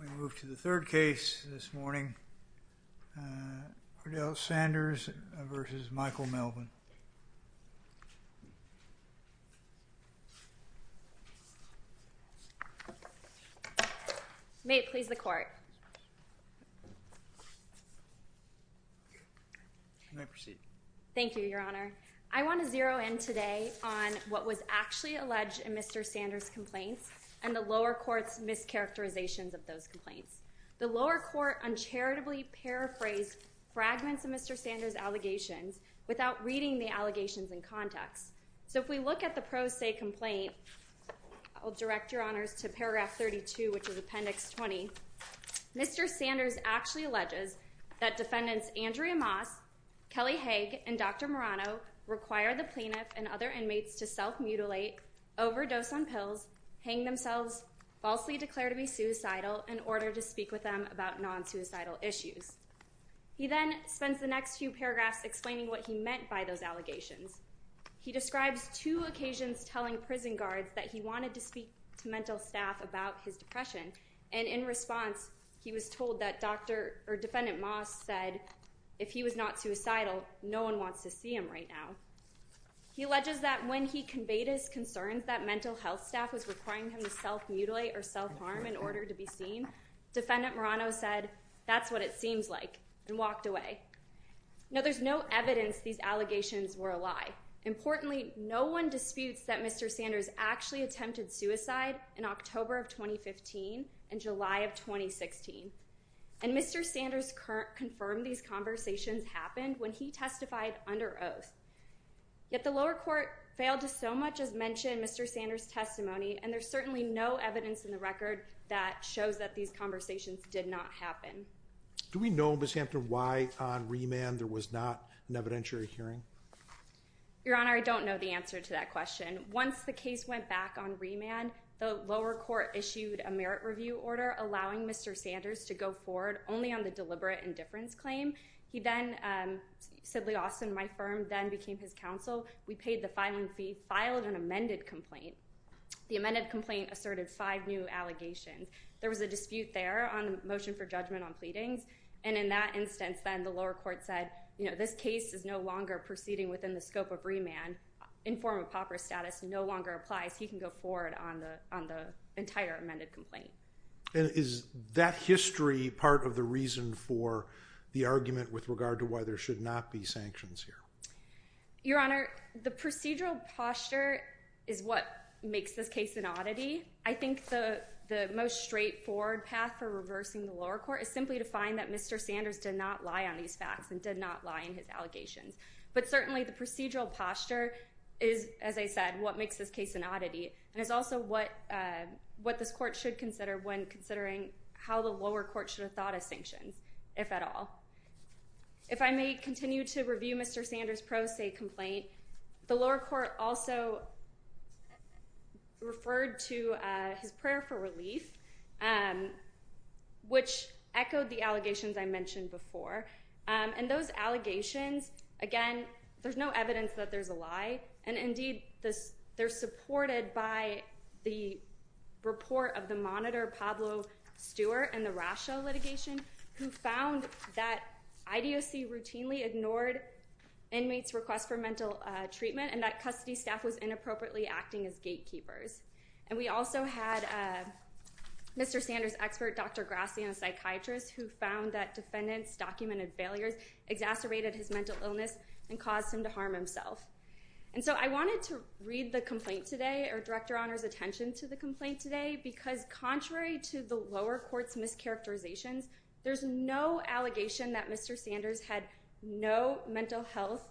We move to the third case this morning. Ardell Sanders v. Michael Melvin. May it please the Court. You may proceed. Thank you, Your Honor. I want to zero in today on what was actually alleged in Mr. Sanders' complaints and the lower court's mischaracterizations of those complaints. The lower court uncharitably paraphrased fragments of Mr. Sanders' allegations without reading the allegations in context. So if we look at the pro se complaint, I'll direct Your Honors to paragraph 32, which is appendix 20. Mr. Sanders actually alleges that defendants Andrea Moss, Kelly Haag, and Dr. Marano required the plaintiff and other inmates to self-mutilate, overdose on pills, hang themselves, falsely declare to be suicidal, in order to speak with them about non-suicidal issues. He then spends the next few paragraphs explaining what he meant by those allegations. He describes two occasions telling prison guards that he wanted to speak to mental staff about his depression. And in response, he was told that Dr. or Defendant Moss said, if he was not suicidal, no one wants to see him right now. He alleges that when he conveyed his concerns that mental health staff was requiring him to self-mutilate or self-harm in order to be seen, Defendant Marano said, that's what it seems like, and walked away. Now, there's no evidence these allegations were a lie. Importantly, no one disputes that Mr. Sanders actually attempted suicide in October of 2015 and July of 2016. And Mr. Sanders confirmed these conversations happened when he testified under oath. Yet the lower court failed to so much as mention Mr. Sanders' testimony, and there's certainly no evidence in the record that shows that these conversations did not happen. Do we know, Ms. Hampton, why on remand there was not an evidentiary hearing? Your Honor, I don't know the answer to that question. Once the case went back on remand, the lower court issued a merit review order allowing Mr. Sanders to go forward only on the deliberate indifference claim. He then, Sidley Austin, my firm, then became his counsel. We paid the filing fee, filed an amended complaint. The amended complaint asserted five new allegations. There was a dispute there on the motion for judgment on pleadings. And in that instance, then, the lower court said, you know, this case is no longer proceeding within the scope of remand. In form of pauper status, no longer applies. He can go forward on the entire amended complaint. And is that history part of the reason for the argument with regard to why there should not be sanctions here? Your Honor, the procedural posture is what makes this case an oddity. I think the most straightforward path for reversing the lower court is simply to find that Mr. Sanders did not lie on these facts and did not lie in his allegations. But certainly the procedural posture is, as I said, what makes this case an oddity. And it's also what this court should consider when considering how the lower court should have thought of sanctions, if at all. If I may continue to review Mr. Sanders' pro se complaint, the lower court also referred to his prayer for relief, which echoed the allegations I mentioned before. And those allegations, again, there's no evidence that there's a lie. And indeed, they're supported by the report of the monitor Pablo Stewart and the Rasha litigation, who found that IDOC routinely ignored inmates' requests for mental treatment and that custody staff was inappropriately acting as gatekeepers. And we also had Mr. Sanders' expert Dr. Grassi, a psychiatrist, who found that defendants' documented failures exacerbated his mental illness and caused him to harm himself. And so I wanted to read the complaint today or direct Your Honor's attention to the complaint today, because contrary to the lower court's mischaracterizations, there's no allegation that Mr. Sanders had no mental health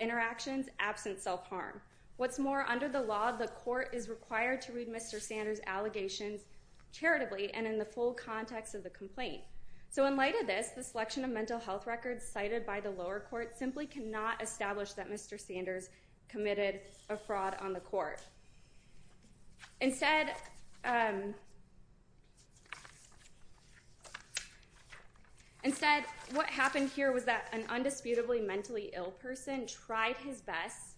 interactions absent self-harm. What's more, under the law, the court is required to read Mr. Sanders' allegations charitably and in the full context of the complaint. So in light of this, the selection of mental health records cited by the lower court simply cannot establish that Mr. Sanders committed a fraud on the court. Instead, what happened here was that an undisputably mentally ill person tried his best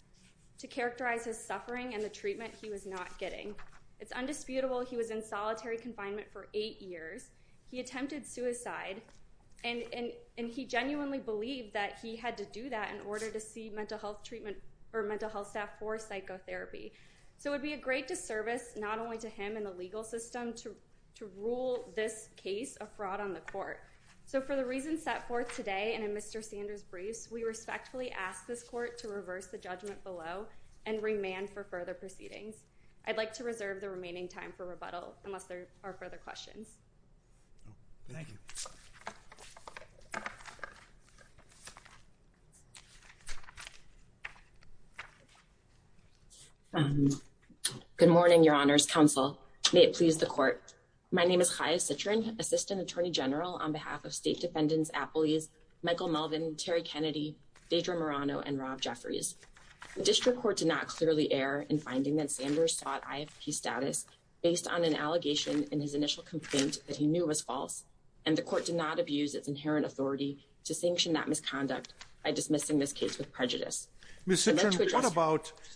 to characterize his suffering and the treatment he was not getting. It's undisputable he was in solitary confinement for eight years. He attempted suicide, and he genuinely believed that he had to do that in order to see mental health treatment or mental health staff for psychotherapy. So it would be a great disservice not only to him and the legal system to rule this case a fraud on the court. So for the reasons set forth today and in Mr. Sanders' briefs, we respectfully ask this court to reverse the judgment below and remand for further proceedings. I'd like to reserve the remaining time for rebuttal unless there are further questions. Thank you. Good morning, Your Honors Counsel. May it please the court. My name is Chaya Citrin, Assistant Attorney General on behalf of State Defendants Appellees Michael Melvin, Terry Kennedy, Deidre Marano, and Rob Jeffries. The district court did not clearly err in finding that Sanders sought IFP status based on an allegation in his initial complaint that he knew was false. And the court did not abuse its inherent authority to sanction that misconduct by dismissing this case with prejudice. Ms. Citrin,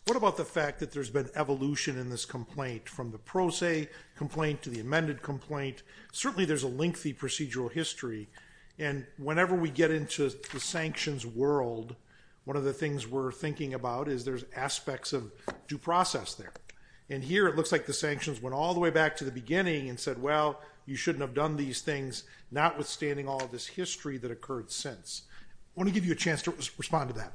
what about the fact that there's been evolution in this complaint from the pro se complaint to the amended complaint? Certainly there's a lengthy procedural history. And whenever we get into the sanctions world, one of the things we're thinking about is there's aspects of due process there. And here it looks like the sanctions went all the way back to the beginning and said, well, you shouldn't have done these things, notwithstanding all this history that occurred since. I want to give you a chance to respond to that.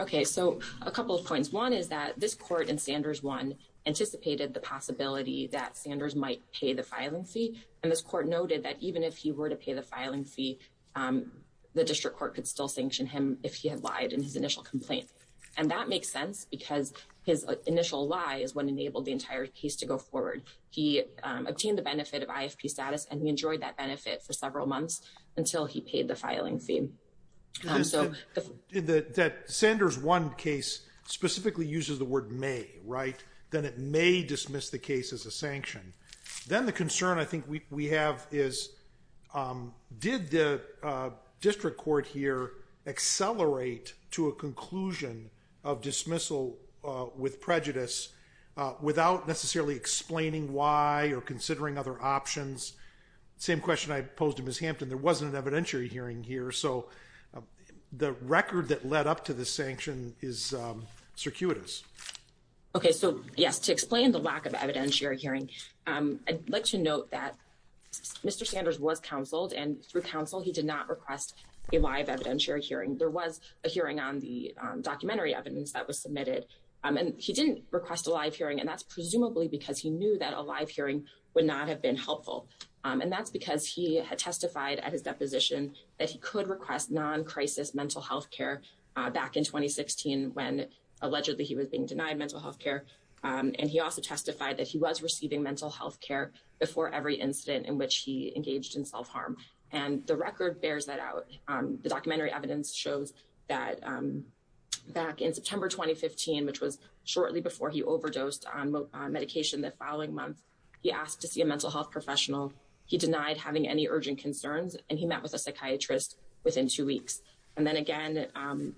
OK, so a couple of points. One is that this court in Sanders one anticipated the possibility that Sanders might pay the filing fee. And this court noted that even if he were to pay the filing fee, the district court could still sanction him if he had lied in his initial complaint. And that makes sense because his initial lie is what enabled the entire case to go forward. He obtained the benefit of IFP status and he enjoyed that benefit for several months until he paid the filing fee. So that Sanders one case specifically uses the word may write, then it may dismiss the case as a sanction. Then the concern I think we have is, did the district court here accelerate to a conclusion of dismissal with prejudice without necessarily explaining why or considering other options? Same question I posed him as Hampton. There wasn't an evidentiary hearing here. So the record that led up to the sanction is circuitous. OK, so yes, to explain the lack of evidentiary hearing, I'd like to note that Mr. Sanders was counseled and through counsel, he did not request a live evidentiary hearing. There was a hearing on the documentary evidence that was submitted and he didn't request a live hearing. And that's presumably because he knew that a live hearing would not have been helpful. And that's because he had testified at his deposition that he could request non-crisis mental health care back in 2016 when allegedly he was being denied mental health care. And he also testified that he was receiving mental health care before every incident in which he engaged in self-harm. And the record bears that out. The documentary evidence shows that back in September 2015, which was shortly before he overdosed on medication the following month, he asked to see a mental health professional. He denied having any urgent concerns and he met with a psychiatrist within two weeks. And then again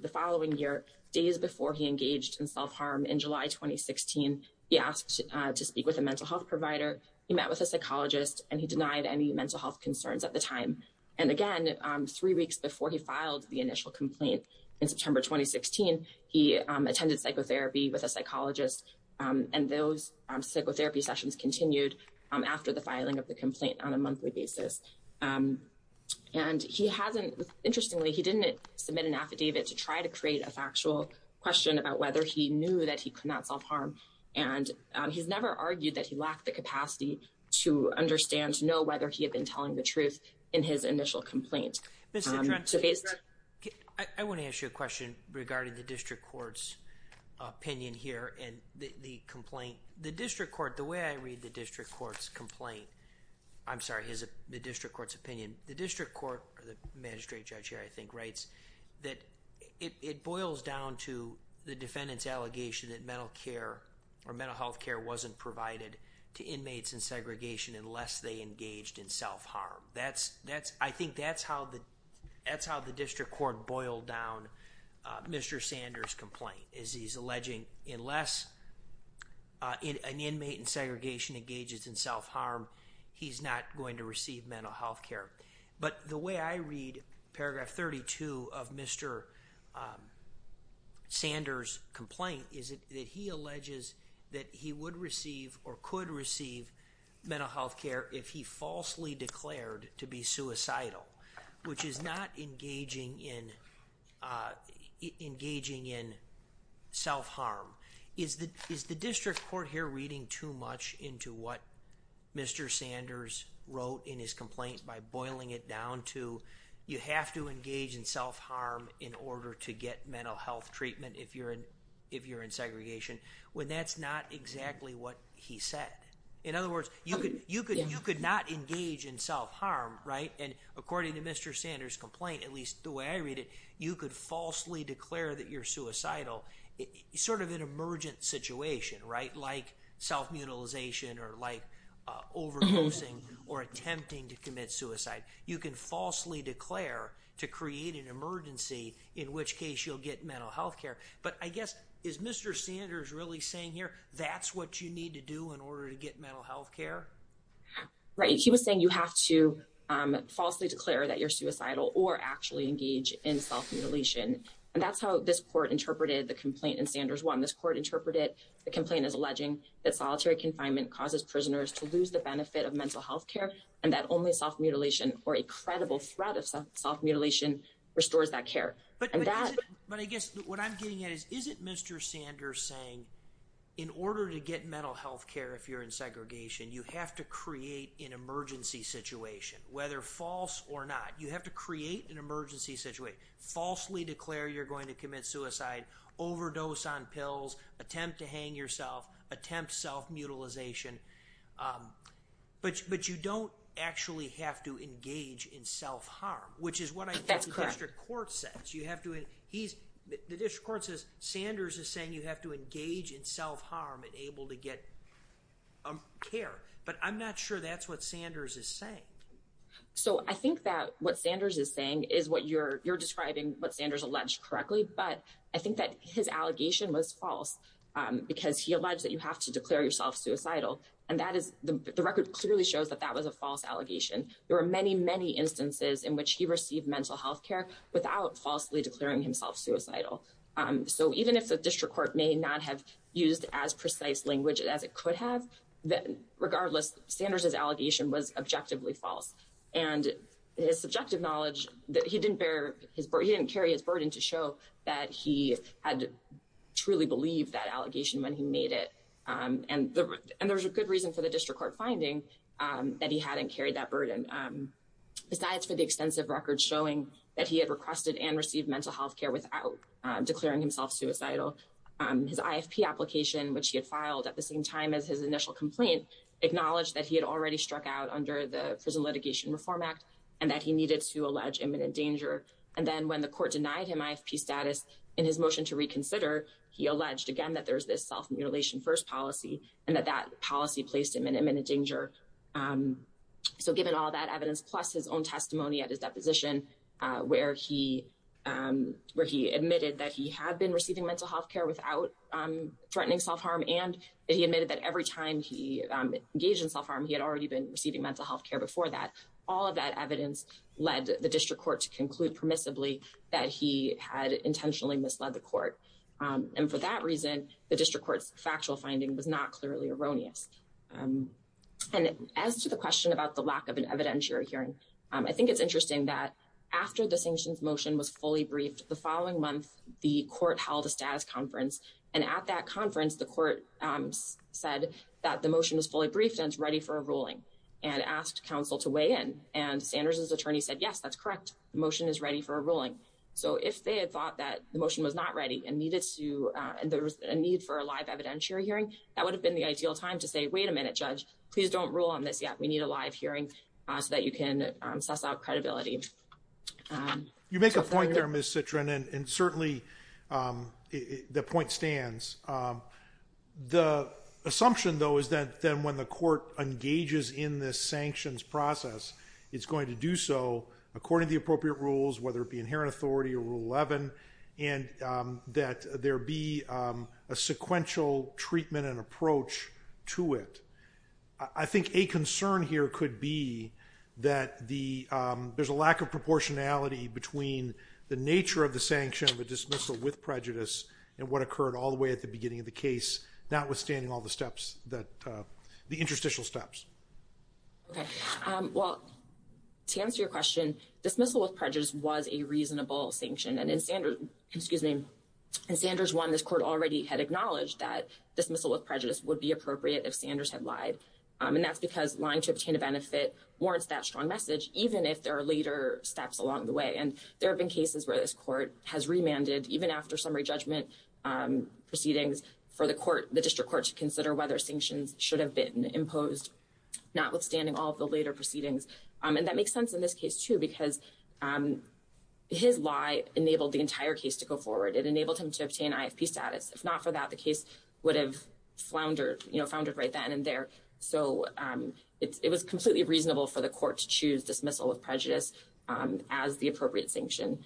the following year, days before he engaged in self-harm in July 2016, he asked to speak with a mental health provider. He met with a psychologist and he denied any mental health concerns at the time. And again, three weeks before he filed the initial complaint in September 2016, he attended psychotherapy with a psychologist. And those psychotherapy sessions continued after the filing of the complaint on a monthly basis. And he hasn't, interestingly, he didn't submit an affidavit to try to create a factual question about whether he knew that he could not self-harm. And he's never argued that he lacked the capacity to understand, to know whether he had been telling the truth in his initial complaint. I want to ask you a question regarding the district court's opinion here and the complaint. The district court, the way I read the district court's complaint, I'm sorry, the district court's opinion. The district court, the magistrate judge here I think, writes that it boils down to the defendant's allegation that mental care or mental health care wasn't provided to inmates in segregation unless they engaged in self-harm. That's, I think that's how the district court boiled down Mr. Sanders' complaint. As he's alleging, unless an inmate in segregation engages in self-harm, he's not going to receive mental health care. But the way I read paragraph 32 of Mr. Sanders' complaint is that he alleges that he would receive or could receive mental health care if he falsely declared to be suicidal. Which is not engaging in self-harm. Is the district court here reading too much into what Mr. Sanders wrote in his complaint by boiling it down to, you have to engage in self-harm in order to get mental health treatment if you're in segregation? When that's not exactly what he said. In other words, you could not engage in self-harm, right? And according to Mr. Sanders' complaint, at least the way I read it, you could falsely declare that you're suicidal. Sort of an emergent situation, right? Like self-mutilization or like overdosing or attempting to commit suicide. You can falsely declare to create an emergency, in which case you'll get mental health care. But I guess, is Mr. Sanders really saying here, that's what you need to do in order to get mental health care? Right, he was saying you have to falsely declare that you're suicidal or actually engage in self-mutilation. And that's how this court interpreted the complaint in Sanders 1. This court interpreted the complaint as alleging that solitary confinement causes prisoners to lose the benefit of mental health care. And that only self-mutilation or a credible threat of self-mutilation restores that care. But I guess what I'm getting at is, isn't Mr. Sanders saying, in order to get mental health care if you're in segregation, you have to create an emergency situation. Whether false or not, you have to create an emergency situation. Falsely declare you're going to commit suicide, overdose on pills, attempt to hang yourself, attempt self-mutilation. But you don't actually have to engage in self-harm, which is what I think the district court says. The district court says Sanders is saying you have to engage in self-harm in order to get care. But I'm not sure that's what Sanders is saying. So I think that what Sanders is saying is what you're describing, what Sanders alleged correctly. But I think that his allegation was false because he alleged that you have to declare yourself suicidal. And the record clearly shows that that was a false allegation. There were many, many instances in which he received mental health care without falsely declaring himself suicidal. So even if the district court may not have used as precise language as it could have, regardless, Sanders' allegation was objectively false. And his subjective knowledge that he didn't carry his burden to show that he had truly believed that allegation when he made it. And there's a good reason for the district court finding that he hadn't carried that burden. Besides for the extensive records showing that he had requested and received mental health care without declaring himself suicidal, his IFP application, which he had filed at the same time as his initial complaint, acknowledged that he had already struck out under the Prison Litigation Reform Act and that he needed to allege imminent danger. And then when the court denied him IFP status in his motion to reconsider, he alleged again that there's this self-mutilation first policy and that that policy placed him in imminent danger. So given all that evidence, plus his own testimony at his deposition, where he admitted that he had been receiving mental health care without threatening self-harm, and he admitted that every time he engaged in self-harm, he had already been receiving mental health care before that. All of that evidence led the district court to conclude permissibly that he had intentionally misled the court. And for that reason, the district court's factual finding was not clearly erroneous. And as to the question about the lack of an evidentiary hearing, I think it's interesting that after the sanctions motion was fully briefed, the following month, the court held a status conference. And at that conference, the court said that the motion was fully briefed and ready for a ruling and asked counsel to weigh in. And Sanders's attorney said, yes, that's correct. The motion is ready for a ruling. So if they had thought that the motion was not ready and needed to, and there was a need for a live evidentiary hearing, that would have been the ideal time to say, wait a minute, judge. Please don't rule on this yet. We need a live hearing so that you can suss out credibility. You make a point there, Ms. Citron, and certainly the point stands. The assumption, though, is that then when the court engages in this sanctions process, it's going to do so according to the appropriate rules, whether it be inherent authority or Rule 11, and that there be a sequential treatment and approach to it. I think a concern here could be that there's a lack of proportionality between the nature of the sanction, the dismissal with prejudice, and what occurred all the way at the beginning of the case, notwithstanding all the steps, the interstitial steps. Well, to answer your question, dismissal with prejudice was a reasonable sanction. And in Sanders 1, this court already had acknowledged that dismissal with prejudice would be appropriate if Sanders had lied. And that's because lying to obtain a benefit warrants that strong message, even if there are later steps along the way. And there have been cases where this court has remanded, even after summary judgment proceedings, for the district court to consider whether sanctions should have been imposed, notwithstanding all of the later proceedings. And that makes sense in this case, too, because his lie enabled the entire case to go forward. It enabled him to obtain IFP status. If not for that, the case would have floundered right then and there. So it was completely reasonable for the court to choose dismissal with prejudice as the appropriate sanction.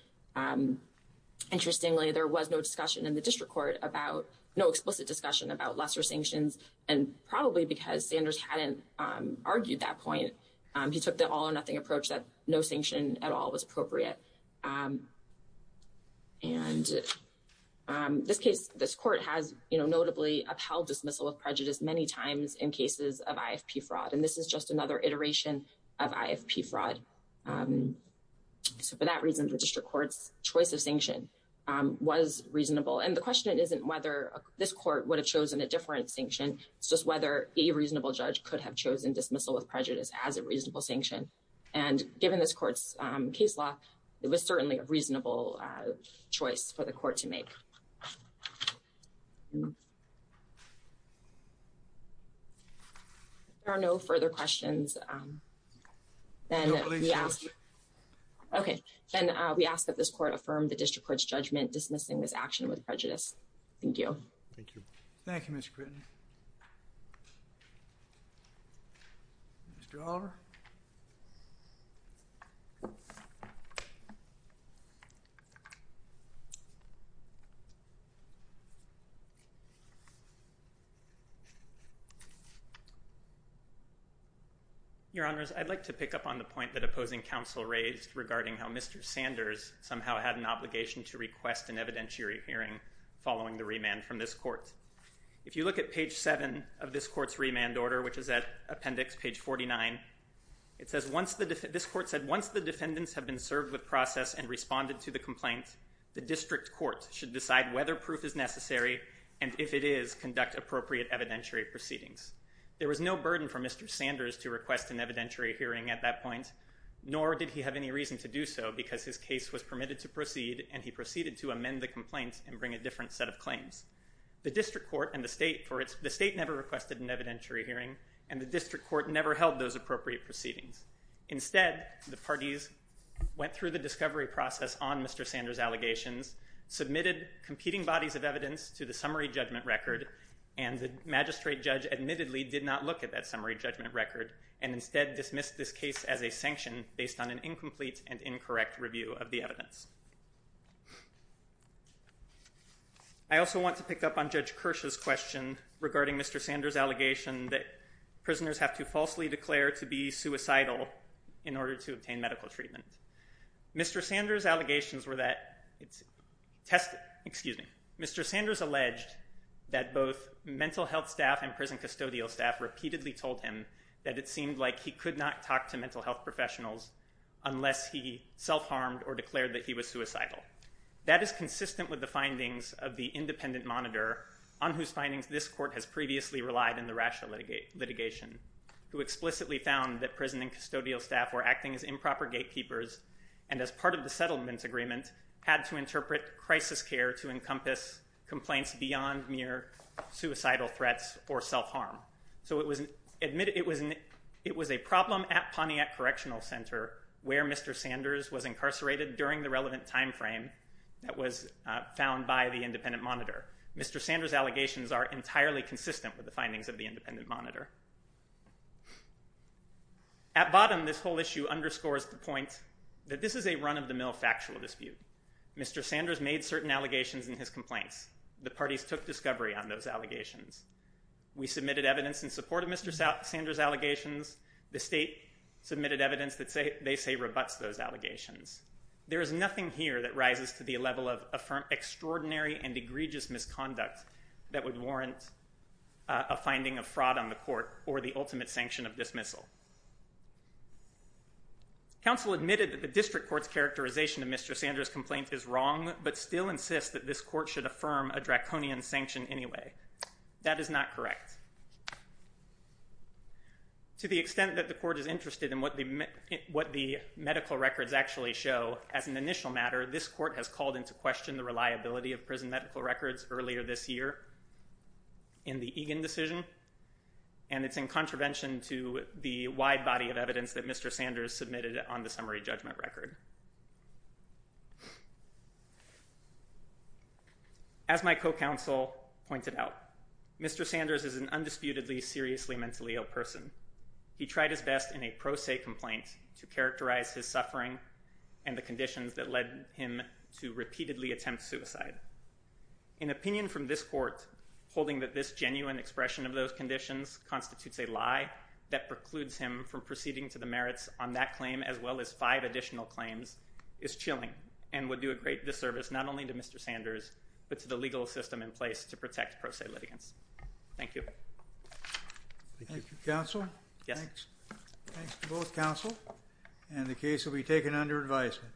Interestingly, there was no discussion in the district court about no explicit discussion about lesser sanctions. And probably because Sanders hadn't argued that point, he took the all or nothing approach that no sanction at all was appropriate. And this case, this court has notably upheld dismissal of prejudice many times in cases of IFP fraud. And this is just another iteration of IFP fraud. So for that reason, the district court's choice of sanction was reasonable. And the question isn't whether this court would have chosen a different sanction. It's just whether a reasonable judge could have chosen dismissal with prejudice as a reasonable sanction. And given this court's case law, it was certainly a reasonable choice for the court to make. There are no further questions. OK, then we ask that this court affirm the district court's judgment dismissing this action with prejudice. Thank you. Thank you. Thank you, Mr. Critton. Mr. Oliver. Your Honors, I'd like to pick up on the point that opposing counsel raised regarding how Mr. Sanders somehow had an obligation to request an evidentiary hearing following the remand from this court. If you look at page 7 of this court's remand order, which is at appendix page 49, it says, this court said, Instead, the parties went through the discovery process on Mr. Sanders' allegations, submitted competing bodies of evidence to the summary judgment record, and the magistrate judge admittedly did not look at that summary judgment record, and instead dismissed this case as a sanction based on an incomplete and incorrect review of the evidence. I also want to pick up on Judge Kirsch's question regarding Mr. Sanders' allegation that prisoners have to falsely declare to be suicidal, in order to obtain medical treatment. Mr. Sanders alleged that both mental health staff and prison custodial staff repeatedly told him that it seemed like he could not talk to mental health professionals unless he self-harmed or declared that he was suicidal. That is consistent with the findings of the independent monitor, on whose findings this court has previously relied in the ratio litigation, who explicitly found that prison and custodial staff were acting as improper gatekeepers, and as part of the settlement agreement, had to interpret crisis care to encompass complaints beyond mere suicidal threats or self-harm. It was a problem at Pontiac Correctional Center, where Mr. Sanders was incarcerated during the relevant time frame that was found by the independent monitor. Mr. Sanders' allegations are entirely consistent with the findings of the independent monitor. At bottom, this whole issue underscores the point that this is a run-of-the-mill factual dispute. Mr. Sanders made certain allegations in his complaints. The parties took discovery on those allegations. We submitted evidence in support of Mr. Sanders' allegations. The state submitted evidence that they say rebuts those allegations. There is nothing here that rises to the level of extraordinary and egregious misconduct that would warrant a finding of fraud on the court or the ultimate sanction of dismissal. Counsel admitted that the district court's characterization of Mr. Sanders' complaint is wrong, but still insists that this court should affirm a draconian sanction anyway. That is not correct. To the extent that the court is interested in what the medical records actually show, as an initial matter, this court has called into question the reliability of prison medical records earlier this year in the Egan decision, and it's in contravention to the wide body of evidence that Mr. Sanders submitted on the summary judgment record. As my co-counsel pointed out, Mr. Sanders is an undisputedly seriously mentally ill person. He tried his best in a pro se complaint to characterize his suffering and the conditions that led him to repeatedly attempt suicide. An opinion from this court holding that this genuine expression of those conditions constitutes a lie that precludes him from proceeding to the merits on that claim as well as five additional claims is chilling and would do a great disservice not only to Mr. Sanders, but to the legal system in place to protect pro se litigants. Thank you. Thank you, counsel. Thanks to both counsel, and the case will be taken under advisement.